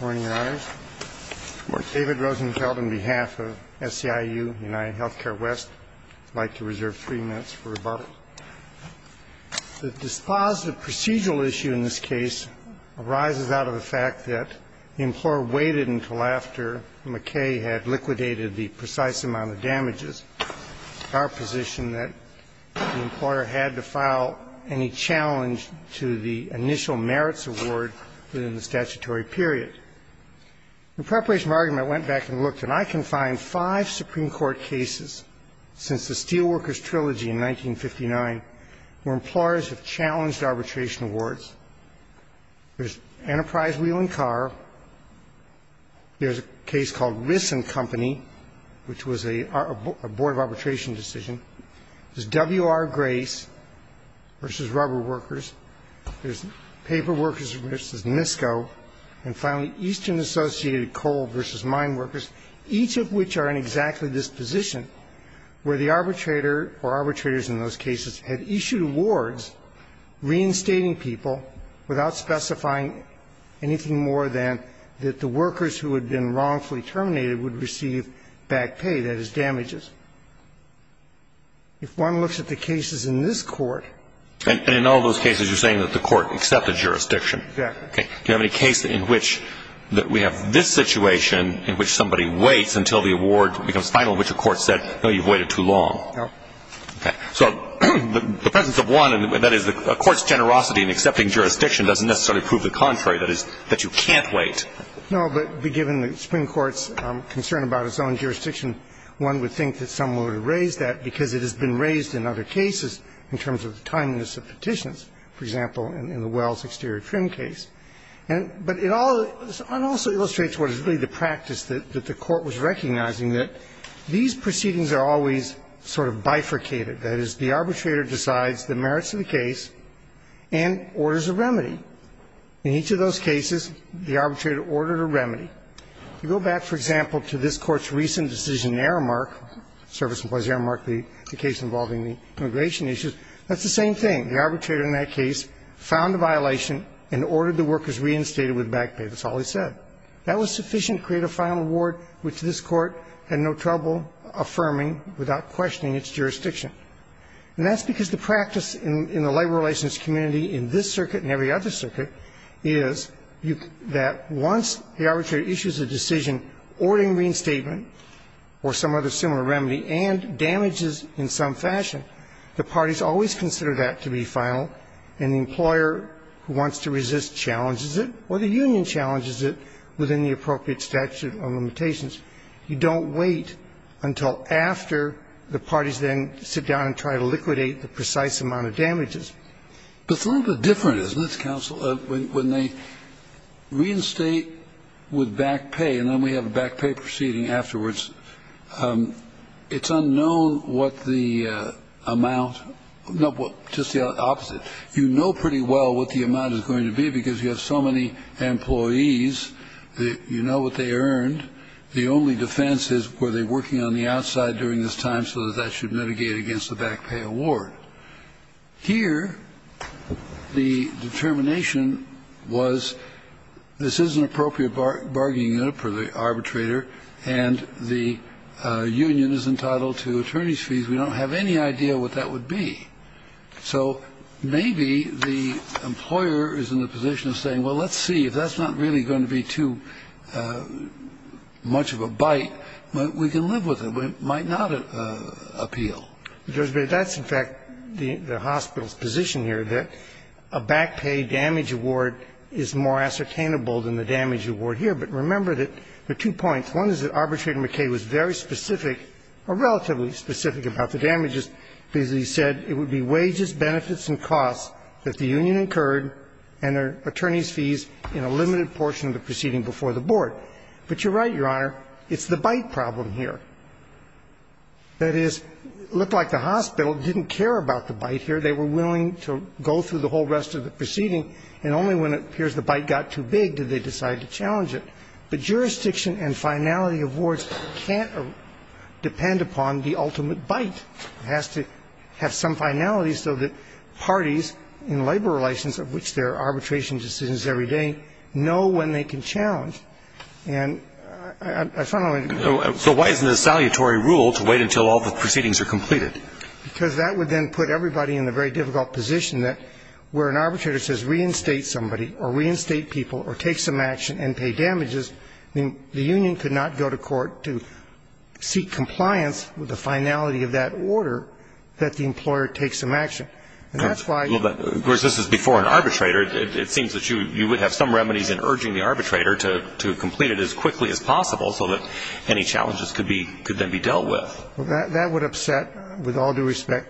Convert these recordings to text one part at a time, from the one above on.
Morning, Your Honors. David Rosenfeld on behalf of SEIU, UnitedHealthcare West. I'd like to reserve three minutes for rebuttal. The dispositive procedural issue in this case arises out of the fact that the employer waited until after McKay had liquidated the precise amount of damages. It's our position that the employer had to file any challenge to the initial merits award within the statutory period. In preparation for argument, I went back and looked, and I can find five Supreme Court cases since the Steelworkers Trilogy in 1959 where employers have challenged arbitration awards. There's Enterprise Wheeling Car. There's a case called Rissen Company, which was a board of arbitration decision. There's W.R. Grace v. Rubberworkers. There's Paperworkers v. MISCO. And finally, Eastern Associated Coal v. Mineworkers, each of which are in exactly this position where the arbitrator or arbitrators in those cases had issued awards reinstating people without specifying anything more than that the workers who had been wrongfully terminated would receive back pay, that is, damages. If one looks at the cases in this Court… And in all those cases, you're saying that the Court accepted jurisdiction. Exactly. Okay. Do you have any case in which we have this situation in which somebody waits until the award becomes final, which the Court said, no, you've waited too long? No. Okay. So the presence of one, and that is the Court's generosity in accepting jurisdiction, doesn't necessarily prove the contrary, that is, that you can't wait. No, but given the Supreme Court's concern about its own jurisdiction, one would think that someone would have raised that because it has been raised in other cases in terms of the timeliness of petitions, for example, in the Wells exterior trim case. But it also illustrates what is really the practice that the Court was recognizing, that these proceedings are always sort of bifurcated, that is, the arbitrator decides the merits of the case and orders a remedy. In each of those cases, the arbitrator ordered a remedy. You go back, for example, to this Court's recent decision in Aramark, Service Employees Aramark, the case involving the immigration issues, that's the same thing. The arbitrator in that case found a violation and ordered the workers reinstated with back pay. That's all he said. That was sufficient to create a final award, which this Court had no trouble affirming without questioning its jurisdiction. And that's because the practice in the labor relations community in this circuit and every other circuit is that once the arbitrator issues a decision ordering reinstatement or some other similar remedy and damages in some fashion, the parties always consider that to be final, and the employer who wants to resist challenges it or the union challenges it within the appropriate statute of limitations. You don't wait until after the parties then sit down and try to liquidate the precise amount of damages. But it's a little bit different, isn't it, counsel, when they reinstate with back pay and then we have a back pay proceeding afterwards, it's unknown what the amount is going to be because you have so many employees, you know what they earned. The only defense is were they working on the outside during this time so that that should mitigate against the back pay award. Here the determination was this is an appropriate bargaining unit for the arbitrator and the union is entitled to attorney's fees. We don't have any idea what that would be. So maybe the employer is in the position of saying, well, let's see, if that's not really going to be too much of a bite, we can live with it. It might not appeal. But that's in fact the hospital's position here, that a back pay damage award is more ascertainable than the damage award here. But remember that there are two points. One is that Arbitrator McKay was very specific or relatively specific about the damages because he said it would be wages, benefits and costs that the union incurred and their attorney's fees in a limited portion of the proceeding before the board. But you're right, Your Honor, it's the bite problem here. That is, it looked like the hospital didn't care about the bite here. They were willing to go through the whole rest of the proceeding and only when it appears the bite got too big did they decide to challenge it. But jurisdiction and finality of awards can't depend upon the ultimate bite. It has to have some finality so that parties in labor relations of which there are arbitration decisions every day know when they can challenge. And I finally agree. So why isn't it a salutary rule to wait until all the proceedings are completed? Because that would then put everybody in a very difficult position where an arbitrator says reinstate somebody or reinstate people or take some action and pay damages, then the union could not go to court to seek compliance with the finality of that order that the employer take some action. And that's why you... Well, of course, this is before an arbitrator. It seems that you would have some remedies in urging the arbitrator to complete it as quickly as possible so that any challenges could then be dealt with. That would upset, with all due respect,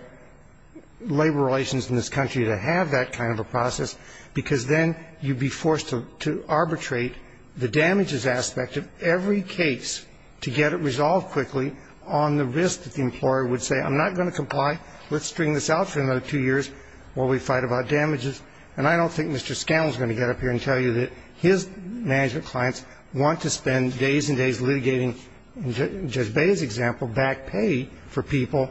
labor relations in this country to have that kind of a process because then you'd be forced to arbitrate the damages aspect of every case to get it resolved quickly on the risk that the employer would say, I'm not going to comply. Let's string this out for another two years while we fight about damages. And I don't think Mr. Scanlon is going to get up here and tell you that his management clients want to spend days and days litigating, in Judge Bay's example, back pay for people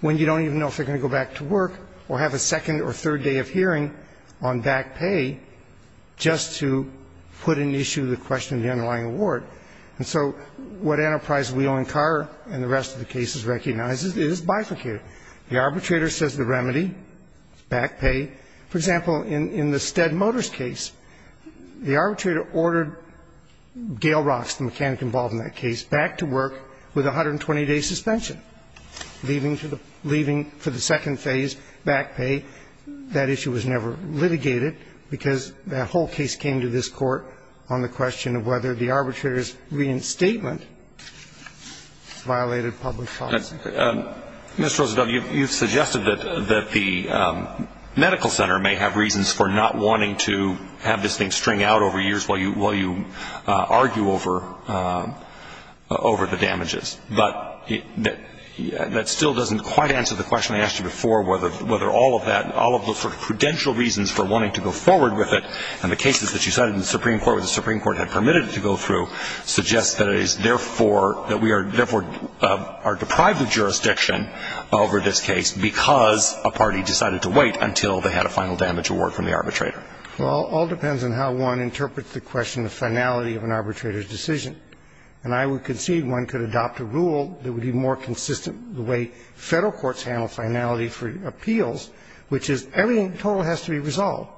when you don't even know if they're going to go back to work or have a second or third day of hearing on back pay just to put in issue the question of the underlying award. And so what Enterprise Wheeling Car and the rest of the cases recognizes is bifurcated. The arbitrator says the remedy is back pay. For example, in the Stead Motors case, the arbitrator ordered Gale Rocks, the mechanic involved in that case, back to work with 120-day suspension, leaving for the second phase back pay. That issue was never litigated because the whole case came to this Court on the question of whether the arbitrator's reinstatement violated public policy. Mr. Rosenfeld, you've suggested that the medical center may have reasons for not wanting to have this thing string out over years while you argue over the damages. But that still doesn't quite answer the question I asked you before, whether all of that and all of the sort of prudential reasons for wanting to go forward with it and the cases that you cited in the Supreme Court where the Supreme Court had permitted it to go through suggests that it is therefore that we are deprived of jurisdiction over this case because a party decided to wait until they had a final damage award from the arbitrator. Well, it all depends on how one interprets the question, the finality of an arbitrator's decision. And I would concede one could adopt a rule that would be more consistent the way Federal courts handle finality for appeals, which is everything in total has to be resolved.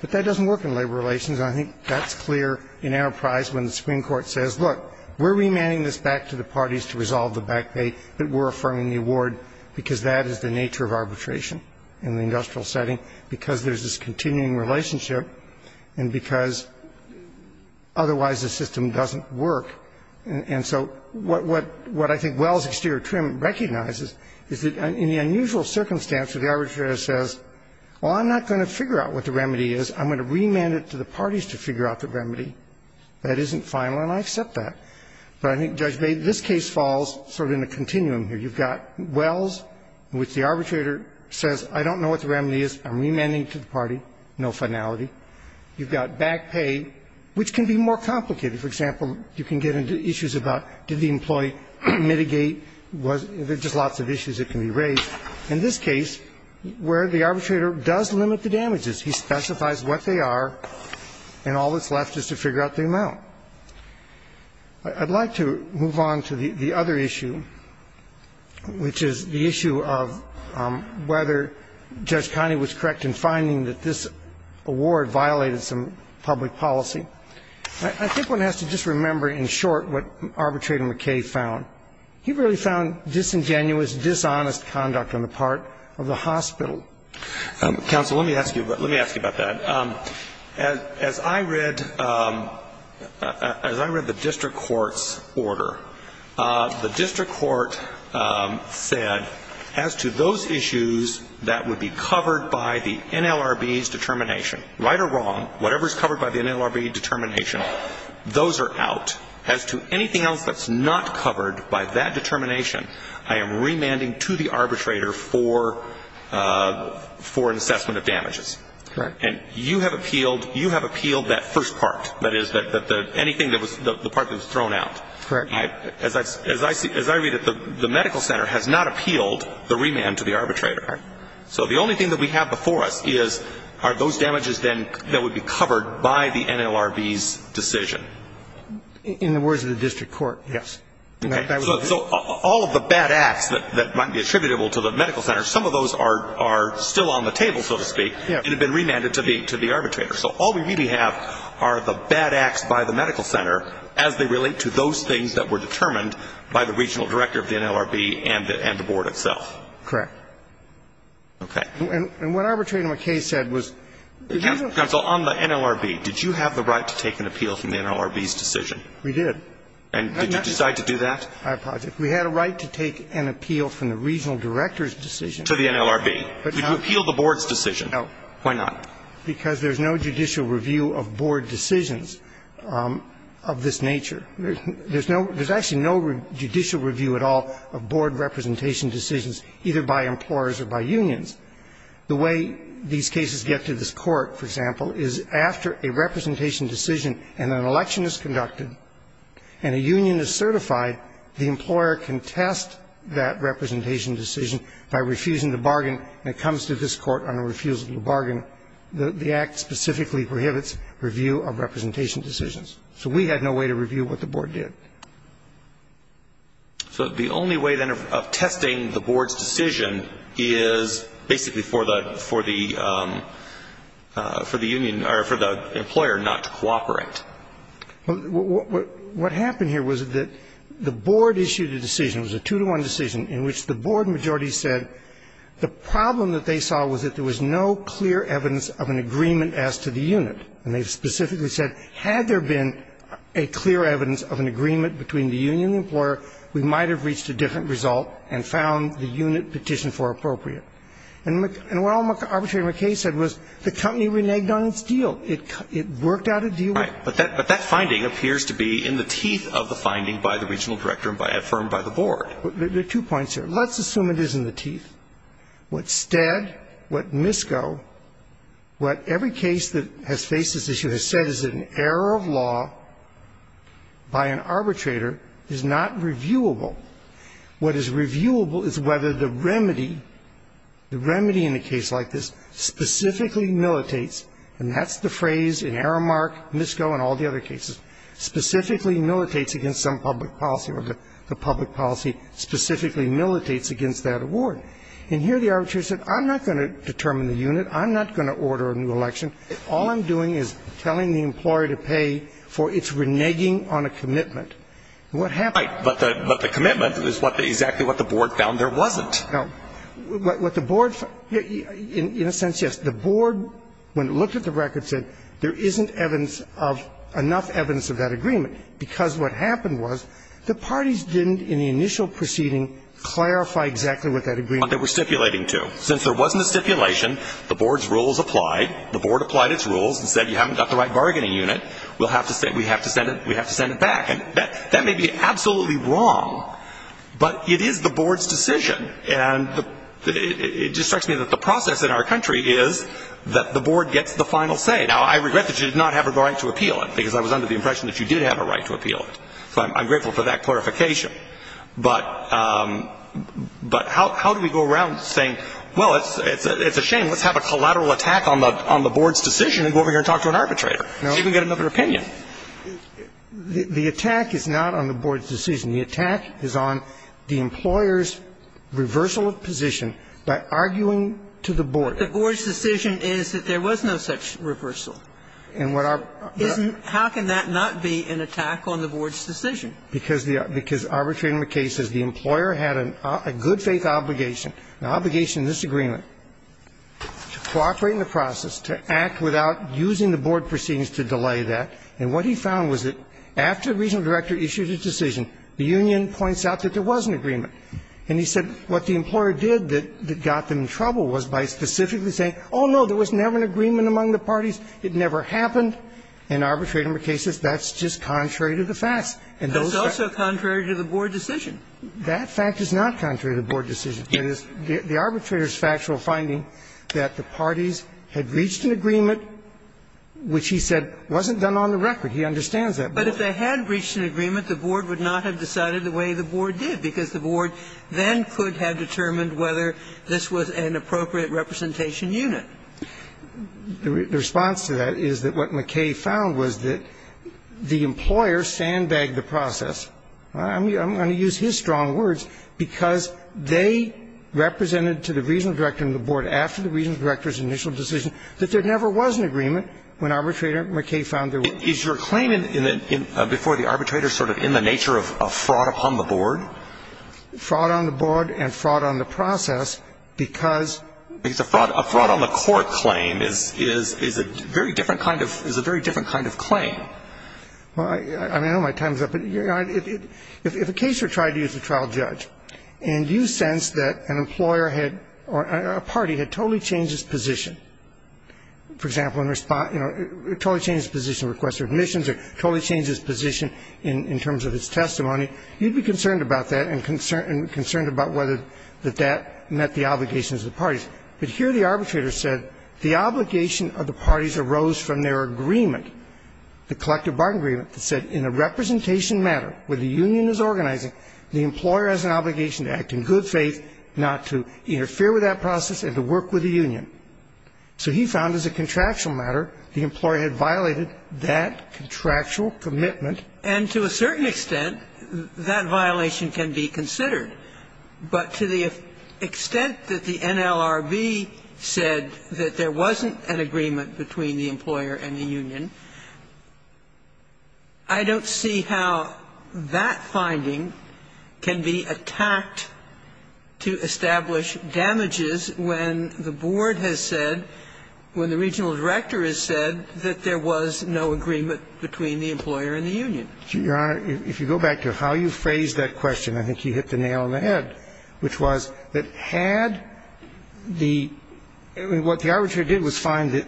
But that doesn't work in labor relations, and I think that's clear in Enterprise when the Supreme Court says, look, we're remanding this back to the parties to resolve the back pay that were affirming the award because that is the nature of arbitration in the industrial setting, because there's this continuing relationship, and because otherwise the system doesn't work. And so what I think Wells' exterior trim recognizes is that in the unusual circumstance where the arbitrator says, well, I'm not going to figure out what the remedy is, I'm going to remand it to the parties to figure out the remedy, that isn't final, and I accept that. But I think, Judge Bate, this case falls sort of in a continuum here. You've got Wells, in which the arbitrator says, I don't know what the remedy is, I'm remanding it to the party, no finality. You've got back pay, which can be more complicated. For example, you can get into issues about did the employee mitigate? There are just lots of issues that can be raised. In this case, where the arbitrator does limit the damages, he specifies what they are, and all that's left is to figure out the amount. I'd like to move on to the other issue, which is the issue of whether Judge Conney was correct in finding that this award violated some public policy. I think one has to just remember in short what Arbitrator McKay found. He really found disingenuous, dishonest conduct on the part of the hospital. Counsel, let me ask you about that. As I read the district court's order, the district court said as to those issues that would be covered by the NLRB's determination, right or wrong, whatever is covered by the NLRB determination, those are out. As to anything else that's not covered by that determination, I am remanding to the arbitrator for an assessment of damages. Right. And you have appealed that first part, that is, anything that was the part that was thrown out. Correct. As I read it, the medical center has not appealed the remand to the arbitrator. Right. So the only thing that we have before us is are those damages then that would be covered by the NLRB's decision. In the words of the district court, yes. Okay. So all of the bad acts that might be attributable to the medical center, some of those are still on the table, so to speak, and have been remanded to the arbitrator. So all we really have are the bad acts by the medical center as they relate to those things that were determined by the regional director of the NLRB and the board itself. Correct. Okay. And what Arbitrator McKay said was that you don't need to appeal to the NLRB. Counsel, on the NLRB, did you have the right to take an appeal from the NLRB's decision? We did. And did you decide to do that? I apologize. We had a right to take an appeal from the regional director's decision. To the NLRB. But no. You appealed the board's decision. No. Why not? Because there's no judicial review of board decisions of this nature. There's actually no judicial review at all of board representation decisions either by employers or by unions. The way these cases get to this Court, for example, is after a representation decision and an election is conducted and a union is certified, the employer can test that representation decision by refusing the bargain and it comes to this Court on a refusal to bargain. The Act specifically prohibits review of representation decisions. So we had no way to review what the board did. So the only way then of testing the board's decision is basically for the union or for the employer not to cooperate. What happened here was that the board issued a decision, it was a two-to-one decision, in which the board majority said the problem that they saw was that there was no clear evidence of an agreement as to the unit. And they specifically said had there been a clear evidence of an agreement between the union and the employer, we might have reached a different result and found the unit petitioned for appropriate. And what Arbitrator McKay said was the company reneged on its deal. It worked out a deal. Right. But that finding appears to be in the teeth of the finding by the regional director and affirmed by the board. There are two points here. Let's assume it is in the teeth. What STED, what MISCO, what every case that has faced this issue has said is that an error of law by an arbitrator is not reviewable. What is reviewable is whether the remedy, the remedy in a case like this specifically militates, and that's the phrase in Aramark, MISCO and all the other cases, specifically militates against some public policy or the public policy specifically militates against that award. And here the arbitrator said I'm not going to determine the unit. I'm not going to order a new election. All I'm doing is telling the employer to pay for its reneging on a commitment. What happened? Right. But the commitment is exactly what the board found there wasn't. No. What the board, in a sense, yes. The board, when it looked at the record, said there isn't evidence of, enough evidence of that agreement because what happened was the parties didn't in the initial proceeding clarify exactly what that agreement was. They were stipulating to. Since there wasn't a stipulation, the board's rules applied. The board applied its rules and said you haven't got the right bargaining unit. We'll have to send, we have to send it, we have to send it back. And that may be absolutely wrong, but it is the board's decision. And it distracts me that the process in our country is that the board gets the final say. Now, I regret that you did not have a right to appeal it because I was under the impression that you did have a right to appeal it. So I'm grateful for that clarification. But how do we go around saying, well, it's a shame. Let's have a collateral attack on the board's decision and go over here and talk to an arbitrator. No. So you can get another opinion. The attack is not on the board's decision. The attack is on the employer's reversal of position by arguing to the board. The board's decision is that there was no such reversal. How can that not be an attack on the board's decision? Because the arbitrator in the case says the employer had a good faith obligation, an obligation in this agreement, to cooperate in the process, to act without using the board proceedings to delay that. And what he found was that after the regional director issued his decision, the union points out that there was an agreement. And he said what the employer did that got them in trouble was by specifically saying, oh, no, there was never an agreement among the parties. It never happened. And the arbitrator in the case says that's just contrary to the facts. And those facts are contrary to the board decision. That fact is not contrary to the board decision. The arbitrator's factual finding that the parties had reached an agreement, which he said wasn't done on the record. He understands that. But if they had reached an agreement, the board would not have decided the way the board then could have determined whether this was an appropriate representation unit. The response to that is that what McKay found was that the employer sandbagged the process. I'm going to use his strong words because they represented to the regional director and the board after the regional director's initial decision that there never was an agreement when arbitrator McKay found there was. Is your claim before the arbitrator sort of in the nature of fraud upon the board? Fraud on the board and fraud on the process because. Because a fraud on the court claim is a very different kind of claim. Well, I know my time is up. If a case were tried to you as a trial judge and you sense that an employer had or a party had totally changed its position, for example, in response, totally changed its position of request for admissions or totally changed its position in terms of its testimony, you'd be concerned about that and concerned about whether that that met the obligations of the parties. But here the arbitrator said the obligation of the parties arose from their agreement, the collective bargaining agreement that said in a representation matter where the union is organizing, the employer has an obligation to act in good faith not to interfere with that process and to work with the union. So he found as a contractual matter the employer had violated that contractual commitment. And to a certain extent, that violation can be considered. But to the extent that the NLRB said that there wasn't an agreement between the employer and the union, I don't see how that finding can be attacked to establish damages when the board has said, when the regional director has said that there was no agreement between the employer and the union. Your Honor, if you go back to how you phrased that question, I think you hit the nail on the head, which was that had the what the arbitrator did was find that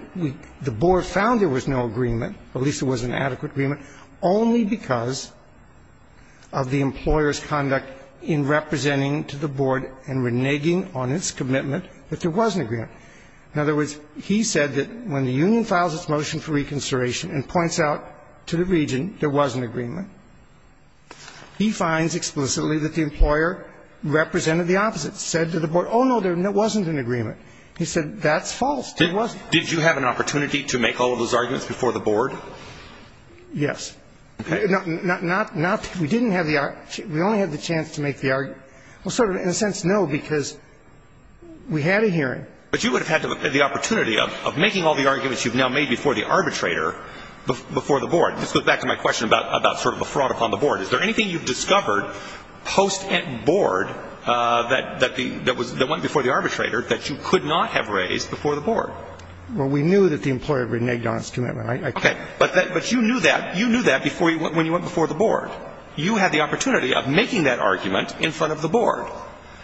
the board found there was no agreement, at least there was an adequate agreement, only because of the employer's conduct in representing to the board and reneging on its commitment that there was an agreement. In other words, he said that when the union files its motion for reconsideration and points out to the region there was an agreement, he finds explicitly that the employer represented the opposite, said to the board, oh, no, there wasn't an agreement. He said that's false. There wasn't. Did you have an opportunity to make all of those arguments before the board? Yes. Okay. Not we didn't have the we only had the chance to make the argument. Well, sort of in a sense, no, because we had a hearing. But you would have had the opportunity of making all the arguments you've now made before the arbitrator before the board. This goes back to my question about sort of a fraud upon the board. Is there anything you've discovered post and board that went before the arbitrator that you could not have raised before the board? Well, we knew that the employer had reneged on its commitment. Okay. But you knew that. You knew that when you went before the board. You had the opportunity of making that argument in front of the board.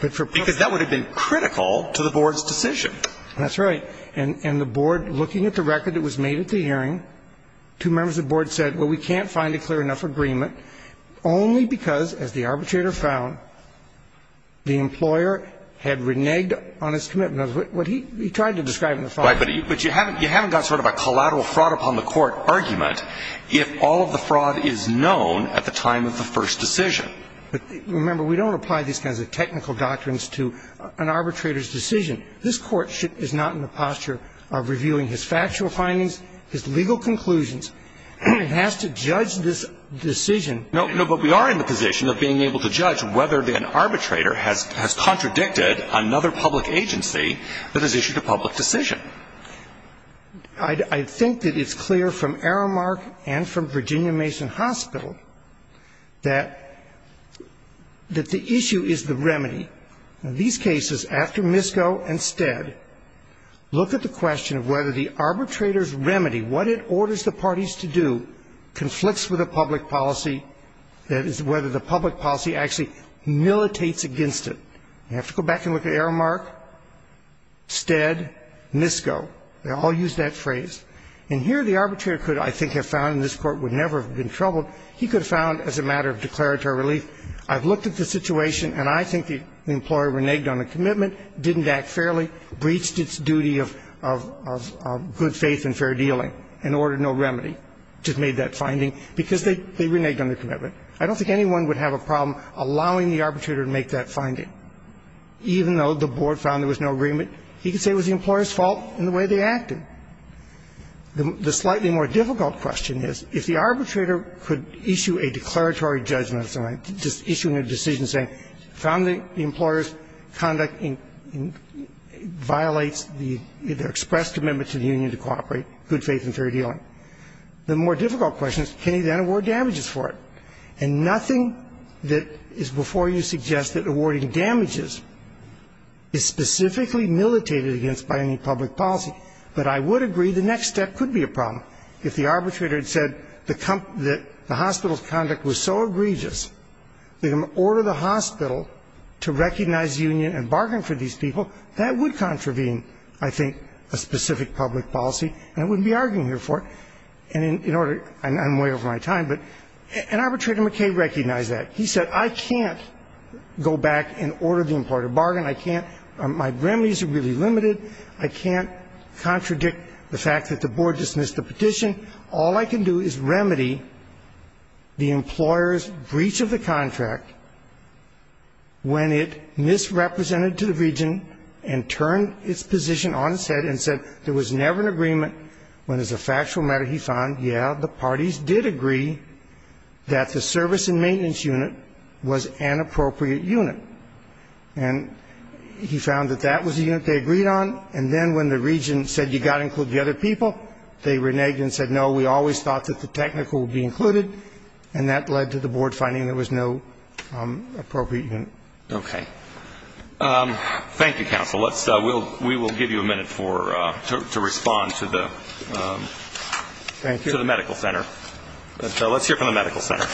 Because that would have been critical to the board's decision. That's right. And the board, looking at the record that was made at the hearing, two members of the board said, well, we can't find a clear enough agreement only because, as the arbitrator found, the employer had reneged on its commitment. That's what he tried to describe in the file. Right. But you haven't got sort of a collateral fraud upon the court argument if all of the fraud is known at the time of the first decision. But remember, we don't apply these kinds of technical doctrines to an arbitrator's decision. This Court is not in the posture of reviewing his factual findings, his legal conclusions. It has to judge this decision. No, but we are in the position of being able to judge whether an arbitrator has contradicted another public agency that has issued a public decision. I think that it's clear from Aramark and from Virginia Mason Hospital that the issue is the remedy. In these cases, after Misko and Stead, look at the question of whether the arbitrator's remedy, what it orders the parties to do, conflicts with the public policy, that is, whether the public policy actually militates against it. You have to go back and look at Aramark, Stead, Misko. They all use that phrase. And here the arbitrator could, I think, have found, and this Court would never have been troubled, he could have found as a matter of declaratory relief, I've looked at the situation and I think the employer reneged on a commitment, didn't act fairly, breached its duty of good faith and fair dealing, and ordered no remedy, just made that finding, because they reneged on the commitment. I don't think anyone would have a problem allowing the arbitrator to make that finding, even though the board found there was no agreement. He could say it was the employer's fault in the way they acted. The slightly more difficult question is, if the arbitrator could issue a declaratory judgment, issuing a decision saying, found the employer's conduct violates the express commitment to the union to cooperate, good faith and fair dealing, the more difficult question is, can he then award damages for it? And nothing that is before you suggests that awarding damages is specifically militated against by any public policy. But I would agree the next step could be a problem. If the arbitrator had said the hospital's conduct was so egregious, they can order the hospital to recognize union and bargain for these people, that would contravene, I think, a specific public policy, and I wouldn't be arguing here for it. And in order, I'm way over my time, but an arbitrator McKay recognized that. He said, I can't go back and order the employer to bargain. I can't, my remedies are really limited. I can't contradict the fact that the board dismissed the petition. All I can do is remedy the employer's breach of the contract when it misrepresented to the region and turned its position on its head and said there was never an agreement when as a factual matter he found, yeah, the parties did agree that the service and maintenance unit was an appropriate unit. And he found that that was the unit they agreed on. And then when the region said you've got to include the other people, they reneged and said, no, we always thought that the technical would be included, and that led to the board finding there was no appropriate unit. Okay. Thank you, counsel. We will give you a minute to respond to the medical center. Let's hear from the medical center.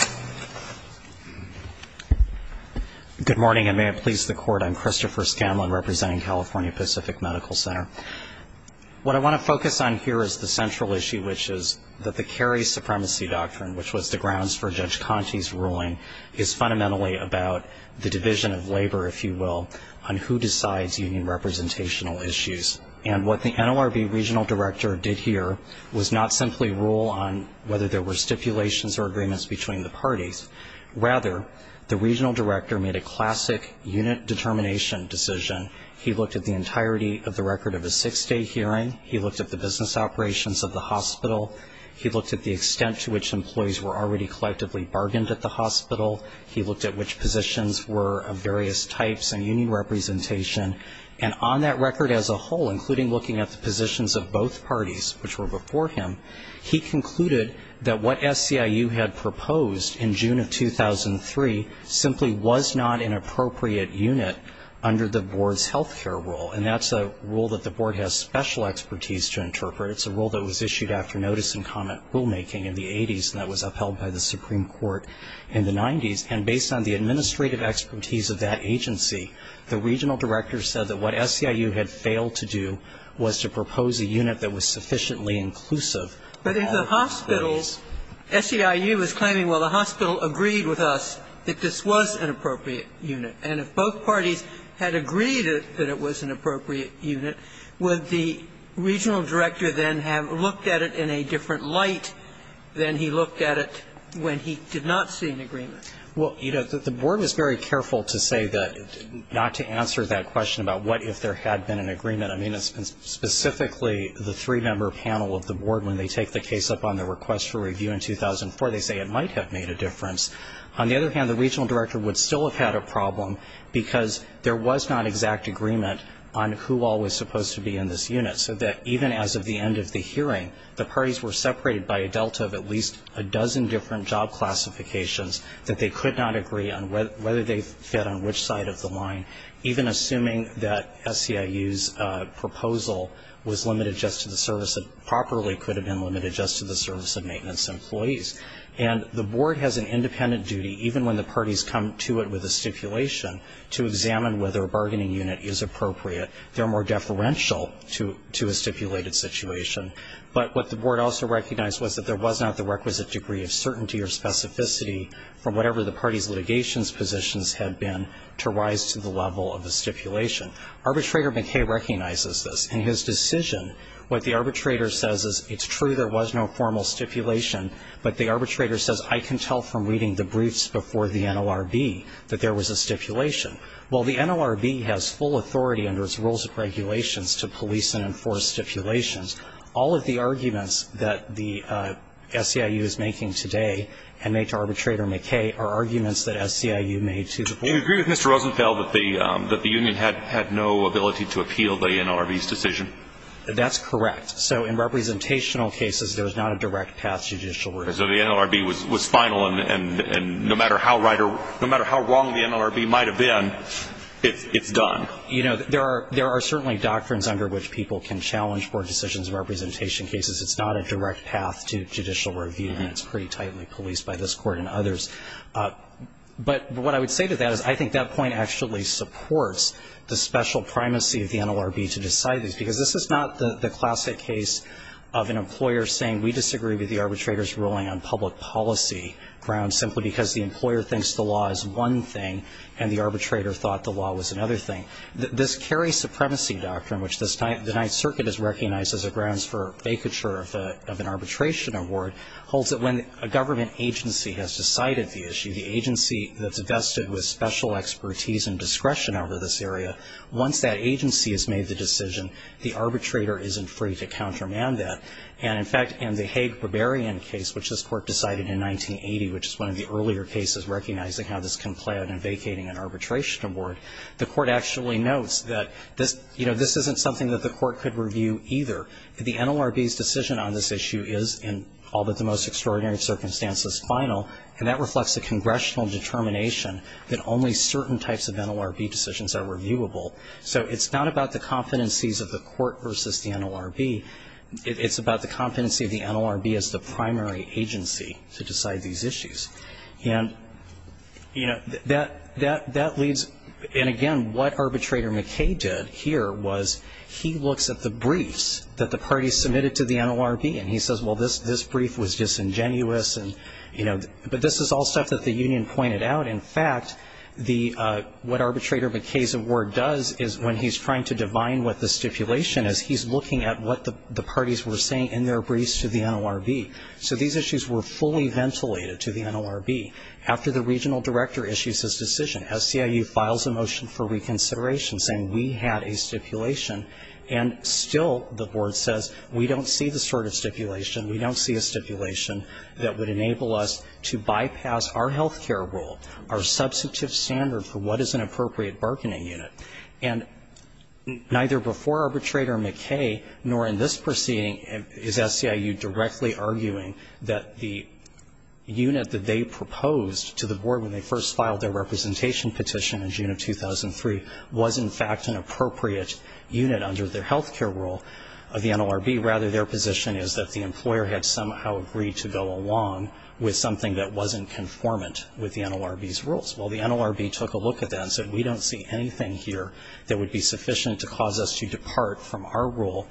Good morning, and may it please the Court. I'm Christopher Scamlin, representing California Pacific Medical Center. What I want to focus on here is the central issue, which is that the Cary Supremacy Doctrine, which was the grounds for Judge Conte's ruling, is fundamentally about the division of labor, if you will, on who decides union representational issues. And what the NORB regional director did here was not simply rule on whether there were stipulations or agreements between the parties. Rather, the regional director made a classic unit determination decision. He looked at the entirety of the record of a six-day hearing. He looked at the business operations of the hospital. He looked at the extent to which employees were already collectively bargained at the hospital. He looked at which positions were of various types and union representation. And on that record as a whole, including looking at the positions of both parties, which were before him, he concluded that what SCIU had proposed in June of 2003 simply was not an appropriate unit under the board's health care rule. And that's a rule that the board has special expertise to interpret. It's a rule that was issued after notice and comment rulemaking in the 80s, and that was upheld by the Supreme Court in the 90s. And based on the administrative expertise of that agency, the regional director said that what SCIU had failed to do was to propose a unit that was sufficiently inclusive for all of its employees. But if the hospital, SCIU was claiming, well, the hospital agreed with us that this was an appropriate unit, and if both parties had agreed that it was an appropriate unit, would the regional director then have looked at it in a different light than he looked at it when he did not see an agreement? Well, you know, the board was very careful to say that, not to answer that question about what if there had been an agreement. I mean, specifically the three-member panel of the board, when they take the case up on the request for review in 2004, they say it might have made a difference. On the other hand, the regional director would still have had a problem because there was not exact agreement on who all was supposed to be in this unit, so that even as of the end of the hearing, the parties were separated by a delta of at least a dozen different job classifications that they could not agree on whether they fit on which side of the line, even assuming that SCIU's proposal was limited just to the service, properly could have been limited just to the service of maintenance employees. And the board has an independent duty, even when the parties come to it with a stipulation, to examine whether a bargaining unit is appropriate. They're more deferential to a stipulated situation. But what the board also recognized was that there was not the requisite degree of certainty or specificity from whatever the party's litigation positions had been to rise to the level of the stipulation. Arbitrator McKay recognizes this. In his decision, what the arbitrator says is, it's true there was no formal stipulation, but the arbitrator says, I can tell from reading the briefs before the NLRB that there was a stipulation. While the NLRB has full authority under its rules and regulations to police and enforce stipulations, all of the arguments that the SCIU is making today and made to arbitrator McKay are arguments that SCIU made to the board. Do you agree with Mr. Rosenfeld that the union had no ability to appeal the NLRB's decision? That's correct. So in representational cases, there was not a direct path to judicial review. So the NLRB was final, and no matter how wrong the NLRB might have been, it's done. You know, there are certainly doctrines under which people can challenge board decisions in representation cases. It's not a direct path to judicial review, and it's pretty tightly policed by this Court and others. But what I would say to that is I think that point actually supports the special primacy of the NLRB to decide these, because this is not the classic case of an employer saying, we disagree with the arbitrator's ruling on public policy grounds simply because the employer thinks the law is one thing, and the arbitrator thought the law was another thing. This Kerry Supremacy Doctrine, which the Ninth Circuit has recognized as a grounds for vacature of an arbitration award, holds that when a government agency has decided the issue, the agency that's vested with special expertise and discretion over this area, once that agency has made the decision, the arbitrator isn't free to countermand that. And, in fact, in the Haig-Berberian case, which this Court decided in 1980, which is one of the earlier cases recognizing how this can play out in vacating an arbitration award, the Court actually notes that this, you know, this isn't something that the Court could review either. The NLRB's decision on this issue is, in all but the most extraordinary circumstances, final. And that reflects a congressional determination that only certain types of NLRB decisions are reviewable. So it's not about the competencies of the Court versus the NLRB. It's about the competency of the NLRB as the primary agency to decide these issues. And, you know, that leads, and, again, what Arbitrator McKay did here was he looks at the briefs that the parties submitted to the NLRB and he says, well, this brief was disingenuous and, you know, but this is all stuff that the union pointed out. In fact, what Arbitrator McKay's award does is, when he's trying to divine what the stipulation is, he's looking at what the parties were saying in their briefs to the NLRB. So these issues were fully ventilated to the NLRB. After the regional director issues his decision, SCIU files a motion for reconsideration saying we had a stipulation, and still the board says we don't see the sort of stipulation, we don't see a stipulation that would enable us to bypass our health care rule, our substantive standard for what is an appropriate bargaining unit. And neither before Arbitrator McKay nor in this proceeding is SCIU directly arguing that the unit that they proposed to the board when they first filed their representation petition in June of 2003 was, in fact, an appropriate unit under their health care rule of the NLRB. Rather, their position is that the employer had somehow agreed to go along with something that wasn't conformant with the NLRB's rules. Well, the NLRB took a look at that and said we don't see anything here that would be sufficient to cause us to depart from our rule,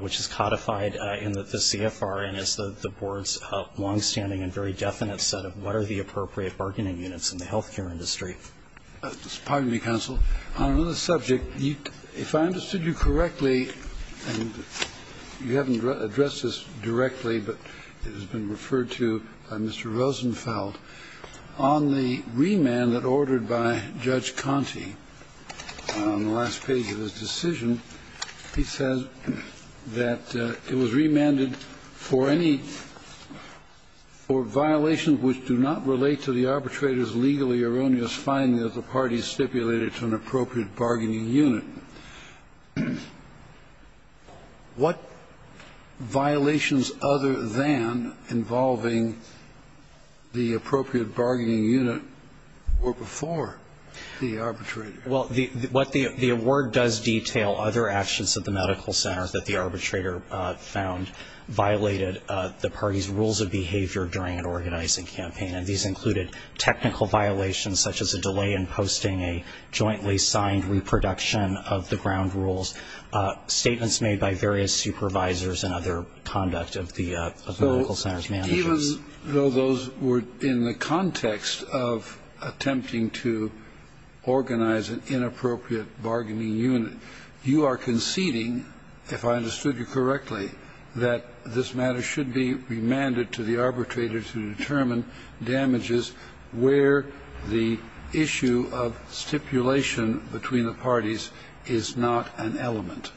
which is codified in the CFR and is the board's longstanding and very definite set of what are the appropriate bargaining units in the health care industry. Kennedy. Pardon me, counsel. On another subject, if I understood you correctly, and you haven't addressed this directly, but it has been referred to by Mr. Rosenfeld. On the remand that ordered by Judge Conte on the last page of his decision, he says that it was remanded for any or violations which do not relate to the arbitrator's legally erroneous finding of the parties stipulated to an appropriate bargaining unit. What violations other than involving the appropriate bargaining unit were before the arbitrator? Well, the award does detail other actions of the medical center that the arbitrator found violated the party's rules of behavior during an organizing campaign. And these included technical violations such as a delay in posting a jointly signed reproduction of the ground rules, statements made by various supervisors and other conduct of the medical center's managers. Even though those were in the context of attempting to organize an inappropriate bargaining unit, you are conceding, if I understood you correctly, that this matter should be remanded to the arbitrator to determine damages where the issue of stipulation between the parties is not an element.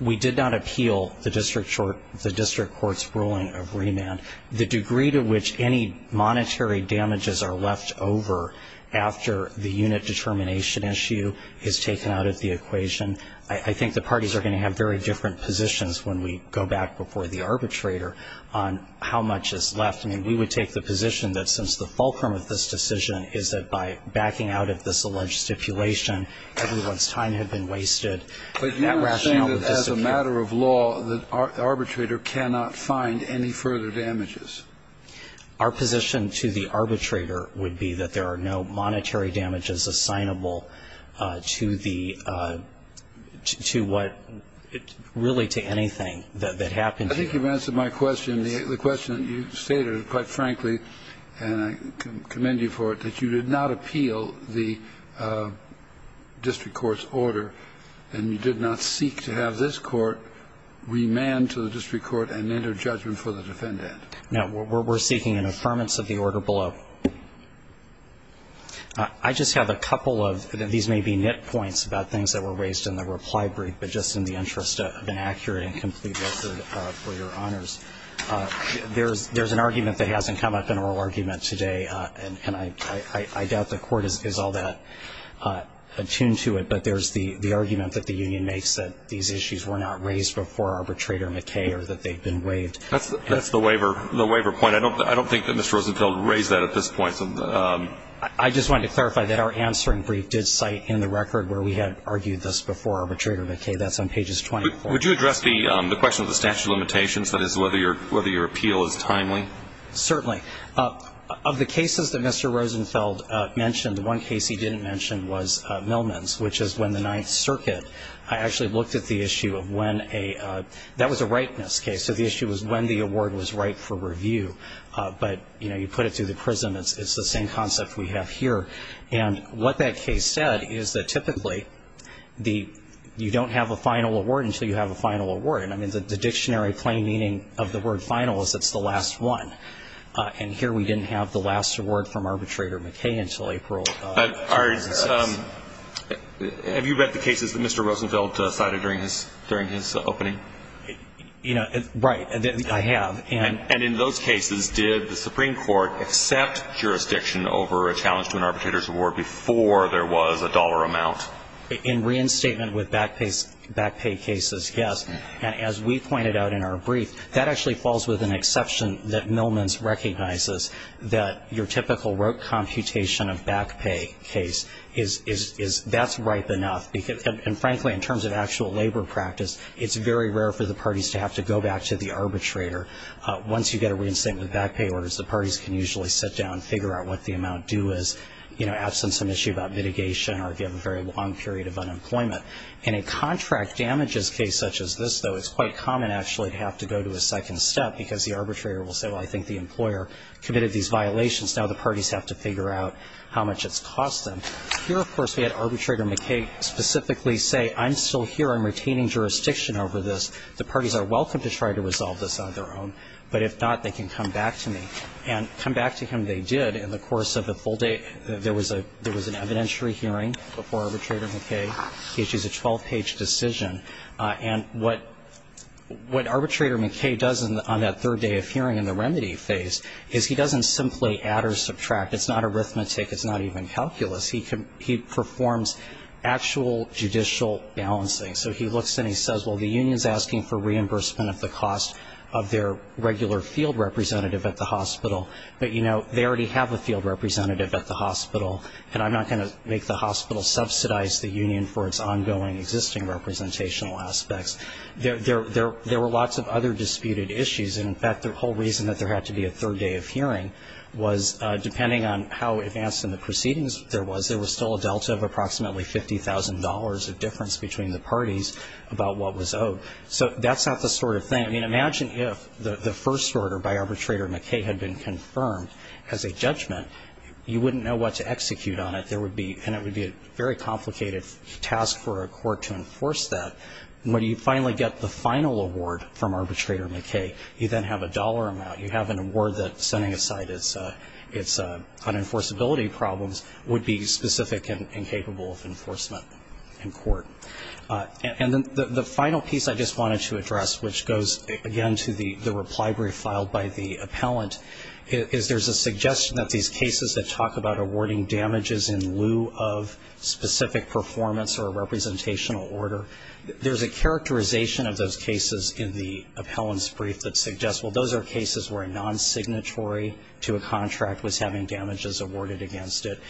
We did not appeal the district court's ruling of remand. The degree to which any monetary damages are left over after the unit determination issue is taken out of the equation, I think the parties are going to have very different positions when we go back before the arbitrator on how much is left. I mean, we would take the position that since the fulcrum of this decision is that by backing out of this alleged stipulation, everyone's time had been wasted, that rationale would disappear. Kennedy, as a matter of law, the arbitrator cannot find any further damages. Our position to the arbitrator would be that there are no monetary damages assignable to the to what really to anything that happened. I think you've answered my question. The question that you stated, quite frankly, and I commend you for it, that you did not appeal the district court's order, and you did not seek to have this court remand to the district court and enter judgment for the defendant. Now, we're seeking an affirmance of the order below. I just have a couple of these may be nit points about things that were raised in the reply brief, but just in the interest of an accurate and complete answer for your honors, there's an argument that hasn't come up in oral argument today, and I doubt the court is all that attuned to it. But there's the argument that the union makes that these issues were not raised before Arbitrator McKay or that they've been waived. That's the waiver point. I don't think that Mr. Rosenfeld raised that at this point. I just wanted to clarify that our answering brief did cite in the record where we had argued this before Arbitrator McKay. That's on pages 24. Would you address the question of the statute of limitations, that is, whether your appeal is timely? Certainly. Of the cases that Mr. Rosenfeld mentioned, the one case he didn't mention was Millman's, which is when the Ninth Circuit. I actually looked at the issue of when a – that was a ripeness case, so the issue was when the award was ripe for review. But, you know, you put it through the prism. It's the same concept we have here. And what that case said is that typically the – you don't have a final award until you have a final award. And, I mean, the dictionary plain meaning of the word final is it's the last one. And here we didn't have the last award from Arbitrator McKay until April 2006. Have you read the cases that Mr. Rosenfeld cited during his opening? You know, right, I have. And in those cases, did the Supreme Court accept jurisdiction over a challenge to an arbitrator's award before there was a dollar amount? In reinstatement with back pay cases, yes. And as we pointed out in our brief, that actually falls with an exception that Millman's recognizes, that your typical rote computation of back pay case is – that's ripe enough. And, frankly, in terms of actual labor practice, it's very rare for the parties to have to go back to the arbitrator. Once you get a reinstatement with back pay orders, the parties can usually sit down and figure out what the amount due is, you know, absent some issue about mitigation or if you have a very long period of unemployment. In a contract damages case such as this, though, it's quite common actually to have to go to a second step because the arbitrator will say, well, I think the employer committed these violations. Now the parties have to figure out how much it's cost them. Here, of course, we had Arbitrator McKay specifically say, I'm still here. I'm retaining jurisdiction over this. The parties are welcome to try to resolve this on their own. But if not, they can come back to me. And come back to him they did in the course of the full day. There was a – there was an evidentiary hearing before Arbitrator McKay. It was a 12-page decision. And what Arbitrator McKay does on that third day of hearing in the remedy phase is he doesn't simply add or subtract. It's not arithmetic. It's not even calculus. He performs actual judicial balancing. So he looks and he says, well, the union is asking for reimbursement of the cost of their regular field representative at the hospital, but, you know, they already have a field representative at the hospital, and I'm not going to make the hospital subsidize the union for its ongoing existing representational aspects. There were lots of other disputed issues. And, in fact, the whole reason that there had to be a third day of hearing was, depending on how advanced in the proceedings there was, there was still a delta of approximately $50,000 of difference between the parties about what was owed. So that's not the sort of thing. I mean, imagine if the first order by Arbitrator McKay had been confirmed as a judgment. You wouldn't know what to execute on it, and it would be a very complicated task for a court to enforce that. And when you finally get the final award from Arbitrator McKay, you then have a dollar amount. You have an award that, setting aside its unenforceability problems, would be specific and capable of enforcement in court. And the final piece I just wanted to address, which goes, again, to the reply brief filed by the appellant, is there's a suggestion that these cases that talk about awarding damages in lieu of specific performance or a representational order, there's a characterization of those cases in the appellant's brief that suggests, well, those are cases where a non-signatory to a contract was having damages awarded against it.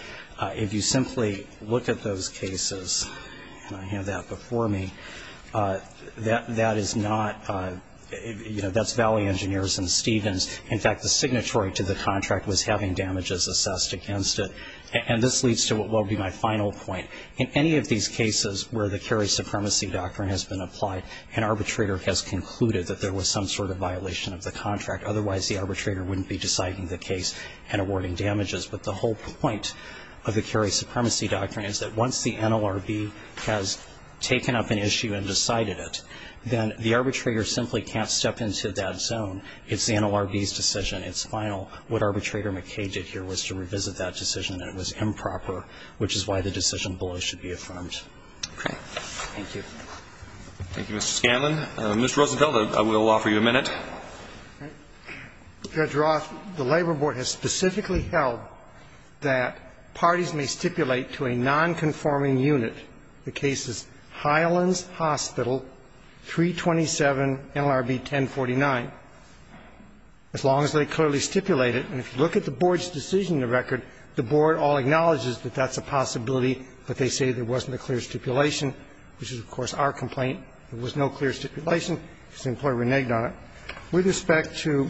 If you simply look at those cases, and I have that before me, that is not, you know, that's Valley Engineers and Stevens. In fact, the signatory to the contract was having damages assessed against it. And this leads to what will be my final point. In any of these cases where the Cary Supremacy Doctrine has been applied, an arbitrator has concluded that there was some sort of violation of the contract. Otherwise, the arbitrator wouldn't be deciding the case and awarding damages. But the whole point of the Cary Supremacy Doctrine is that once the NLRB has taken up an issue and decided it, then the arbitrator simply can't step into that zone. It's the NLRB's decision. It's final. What Arbitrator McKay did here was to revisit that decision. It was improper, which is why the decision below should be affirmed. Thank you. Roberts. Thank you, Mr. Scanlon. Mr. Rosenfeld, I will offer you a minute. Rosenfeld. Judge Roth, the Labor Board has specifically held that parties may stipulate to a nonconforming unit. The case is Highlands Hospital, 327 NLRB 1049. As long as they clearly stipulate it. And if you look at the Board's decision in the record, the Board all acknowledges that that's a possibility, but they say there wasn't a clear stipulation, which is, of course, our complaint. There was no clear stipulation. The employee reneged on it. With respect to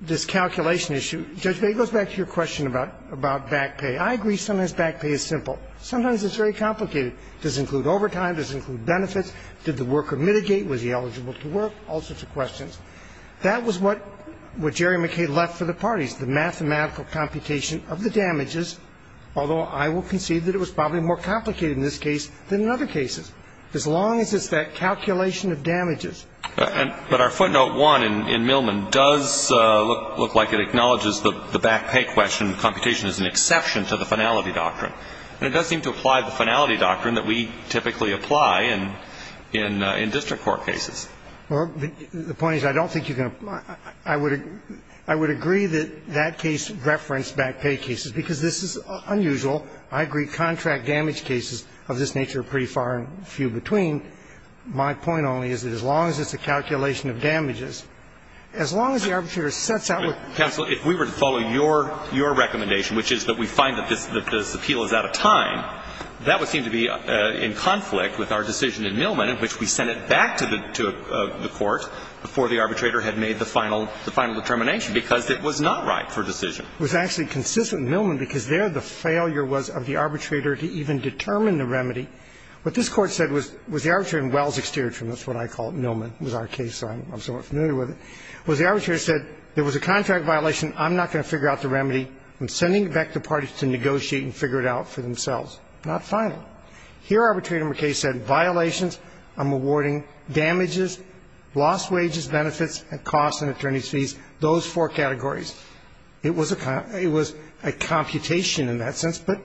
this calculation issue, Judge May, it goes back to your question about back pay. I agree sometimes back pay is simple. Sometimes it's very complicated. Does it include overtime? Does it include benefits? Did the worker mitigate? Was he eligible to work? All sorts of questions. That was what Jerry McKay left for the parties, the mathematical computation of the damages, although I will concede that it was probably more complicated in this case than in other cases, as long as it's that calculation of damages. But our footnote 1 in Millman does look like it acknowledges the back pay question computation is an exception to the finality doctrine. And it does seem to apply the finality doctrine that we typically apply in district court cases. Well, the point is I don't think you can ---- I would agree that that case referenced back pay cases, because this is unusual. I agree contract damage cases of this nature are pretty far and few between. My point only is that as long as it's a calculation of damages, as long as the arbitrator sets out what ---- Counsel, if we were to follow your recommendation, which is that we find that this appeal is out of time, that would seem to be in conflict with our decision in Millman in which we sent it back to the court before the arbitrator had made the final determination, because it was not right for decision. It was actually consistent in Millman because there the failure was of the arbitrator to even determine the remedy. What this Court said was the arbitrator wells exterior from this, what I call Millman was our case, so I'm somewhat familiar with it, was the arbitrator said there was a contract violation. I'm not going to figure out the remedy. I'm sending it back to the parties to negotiate and figure it out for themselves. Not final. Here, Arbitrator McKay said violations, I'm awarding damages, lost wages, benefits and costs and attorney's fees, those four categories. It was a ---- it was a computation in that sense. But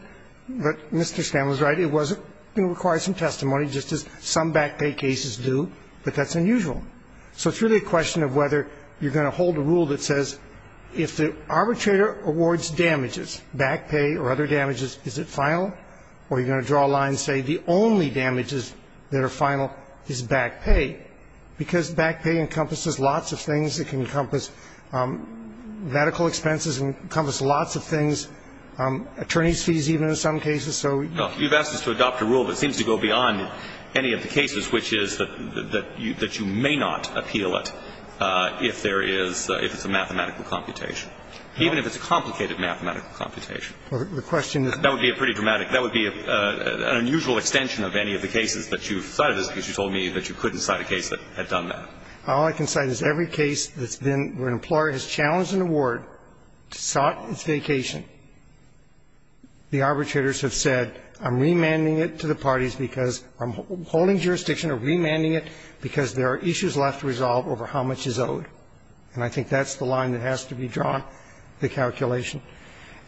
Mr. Scanlon is right. It was going to require some testimony, just as some back pay cases do, but that's unusual. So it's really a question of whether you're going to hold a rule that says if the arbitrator awards damages, back pay or other damages, is it final, or are you going to draw a line and say the only damages that are final is back pay, because back pay encompasses lots of things. It can encompass medical expenses. It can encompass lots of things. Attorney's fees even in some cases. So ---- No. You've asked us to adopt a rule that seems to go beyond any of the cases, which is that you may not appeal it if there is ---- if it's a mathematical computation, even if it's a complicated mathematical computation. The question is ---- That would be a pretty dramatic ---- that would be an unusual extension of any of the cases that you cited, because you told me that you couldn't cite a case that had done that. All I can cite is every case that's been ---- where an employer has challenged an award to sought its vacation, the arbitrators have said, I'm remanding it to the parties because I'm holding jurisdiction or remanding it because there are issues left to resolve over how much is owed. And I think that's the line that has to be drawn, the calculation.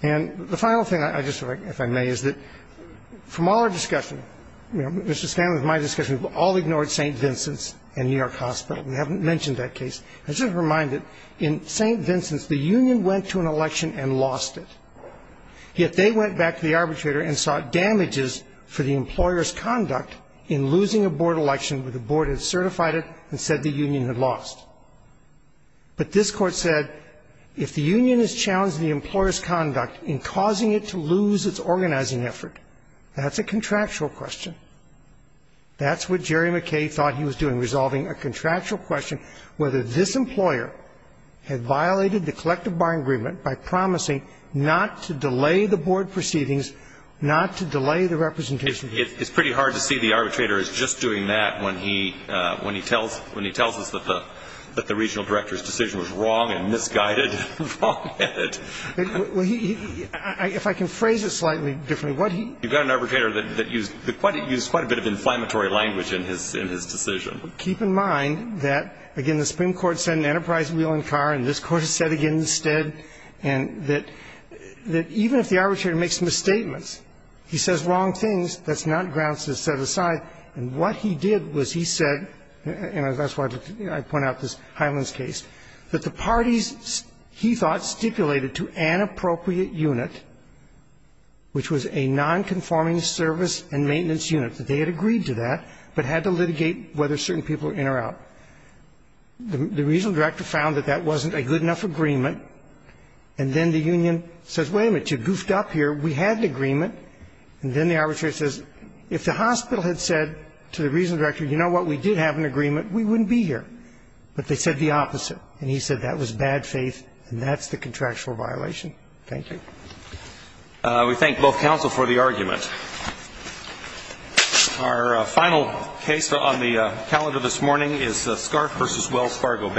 And the final thing, if I may, is that from all our discussion, Mr. Scanlon, with my discussion, we've all ignored St. Vincent's and New York Hospital. We haven't mentioned that case. I just want to remind that in St. Vincent's, the union went to an election and lost it. Yet they went back to the arbitrator and sought damages for the employer's conduct in losing a board election where the board had certified it and said the union had lost. But this Court said if the union has challenged the employer's conduct in causing it to lose its organizing effort, that's a contractual question. That's what Jerry McKay thought he was doing, resolving a contractual question whether this employer had violated the collective bar agreement by promising not to delay the board proceedings, not to delay the representation. It's pretty hard to see the arbitrator as just doing that when he tells us that the regional director's decision was wrong and misguided. If I can phrase it slightly differently. You've got an arbitrator that used quite a bit of inflammatory language in his decision. Keep in mind that, again, the Supreme Court said an enterprise wheel and car, and this Court has said again instead, and that even if the arbitrator makes misstatements, he says wrong things, that's not grounds to set aside. And what he did was he said, and that's why I point out this Highlands case, that the parties, he thought, stipulated to an appropriate unit, which was a nonconforming service and maintenance unit, that they had agreed to that, but had to litigate whether certain people were in or out. The regional director found that that wasn't a good enough agreement, and then the union says, wait a minute, you goofed up here. We had an agreement. And then the arbitrator says, if the hospital had said to the regional director, you know what, we did have an agreement, we wouldn't be here. But they said the opposite. And he said that was bad faith and that's the contractual violation. Thank you. We thank both counsel for the argument. Our final case on the calendar this morning is Scarf v. Wells Fargo Bank.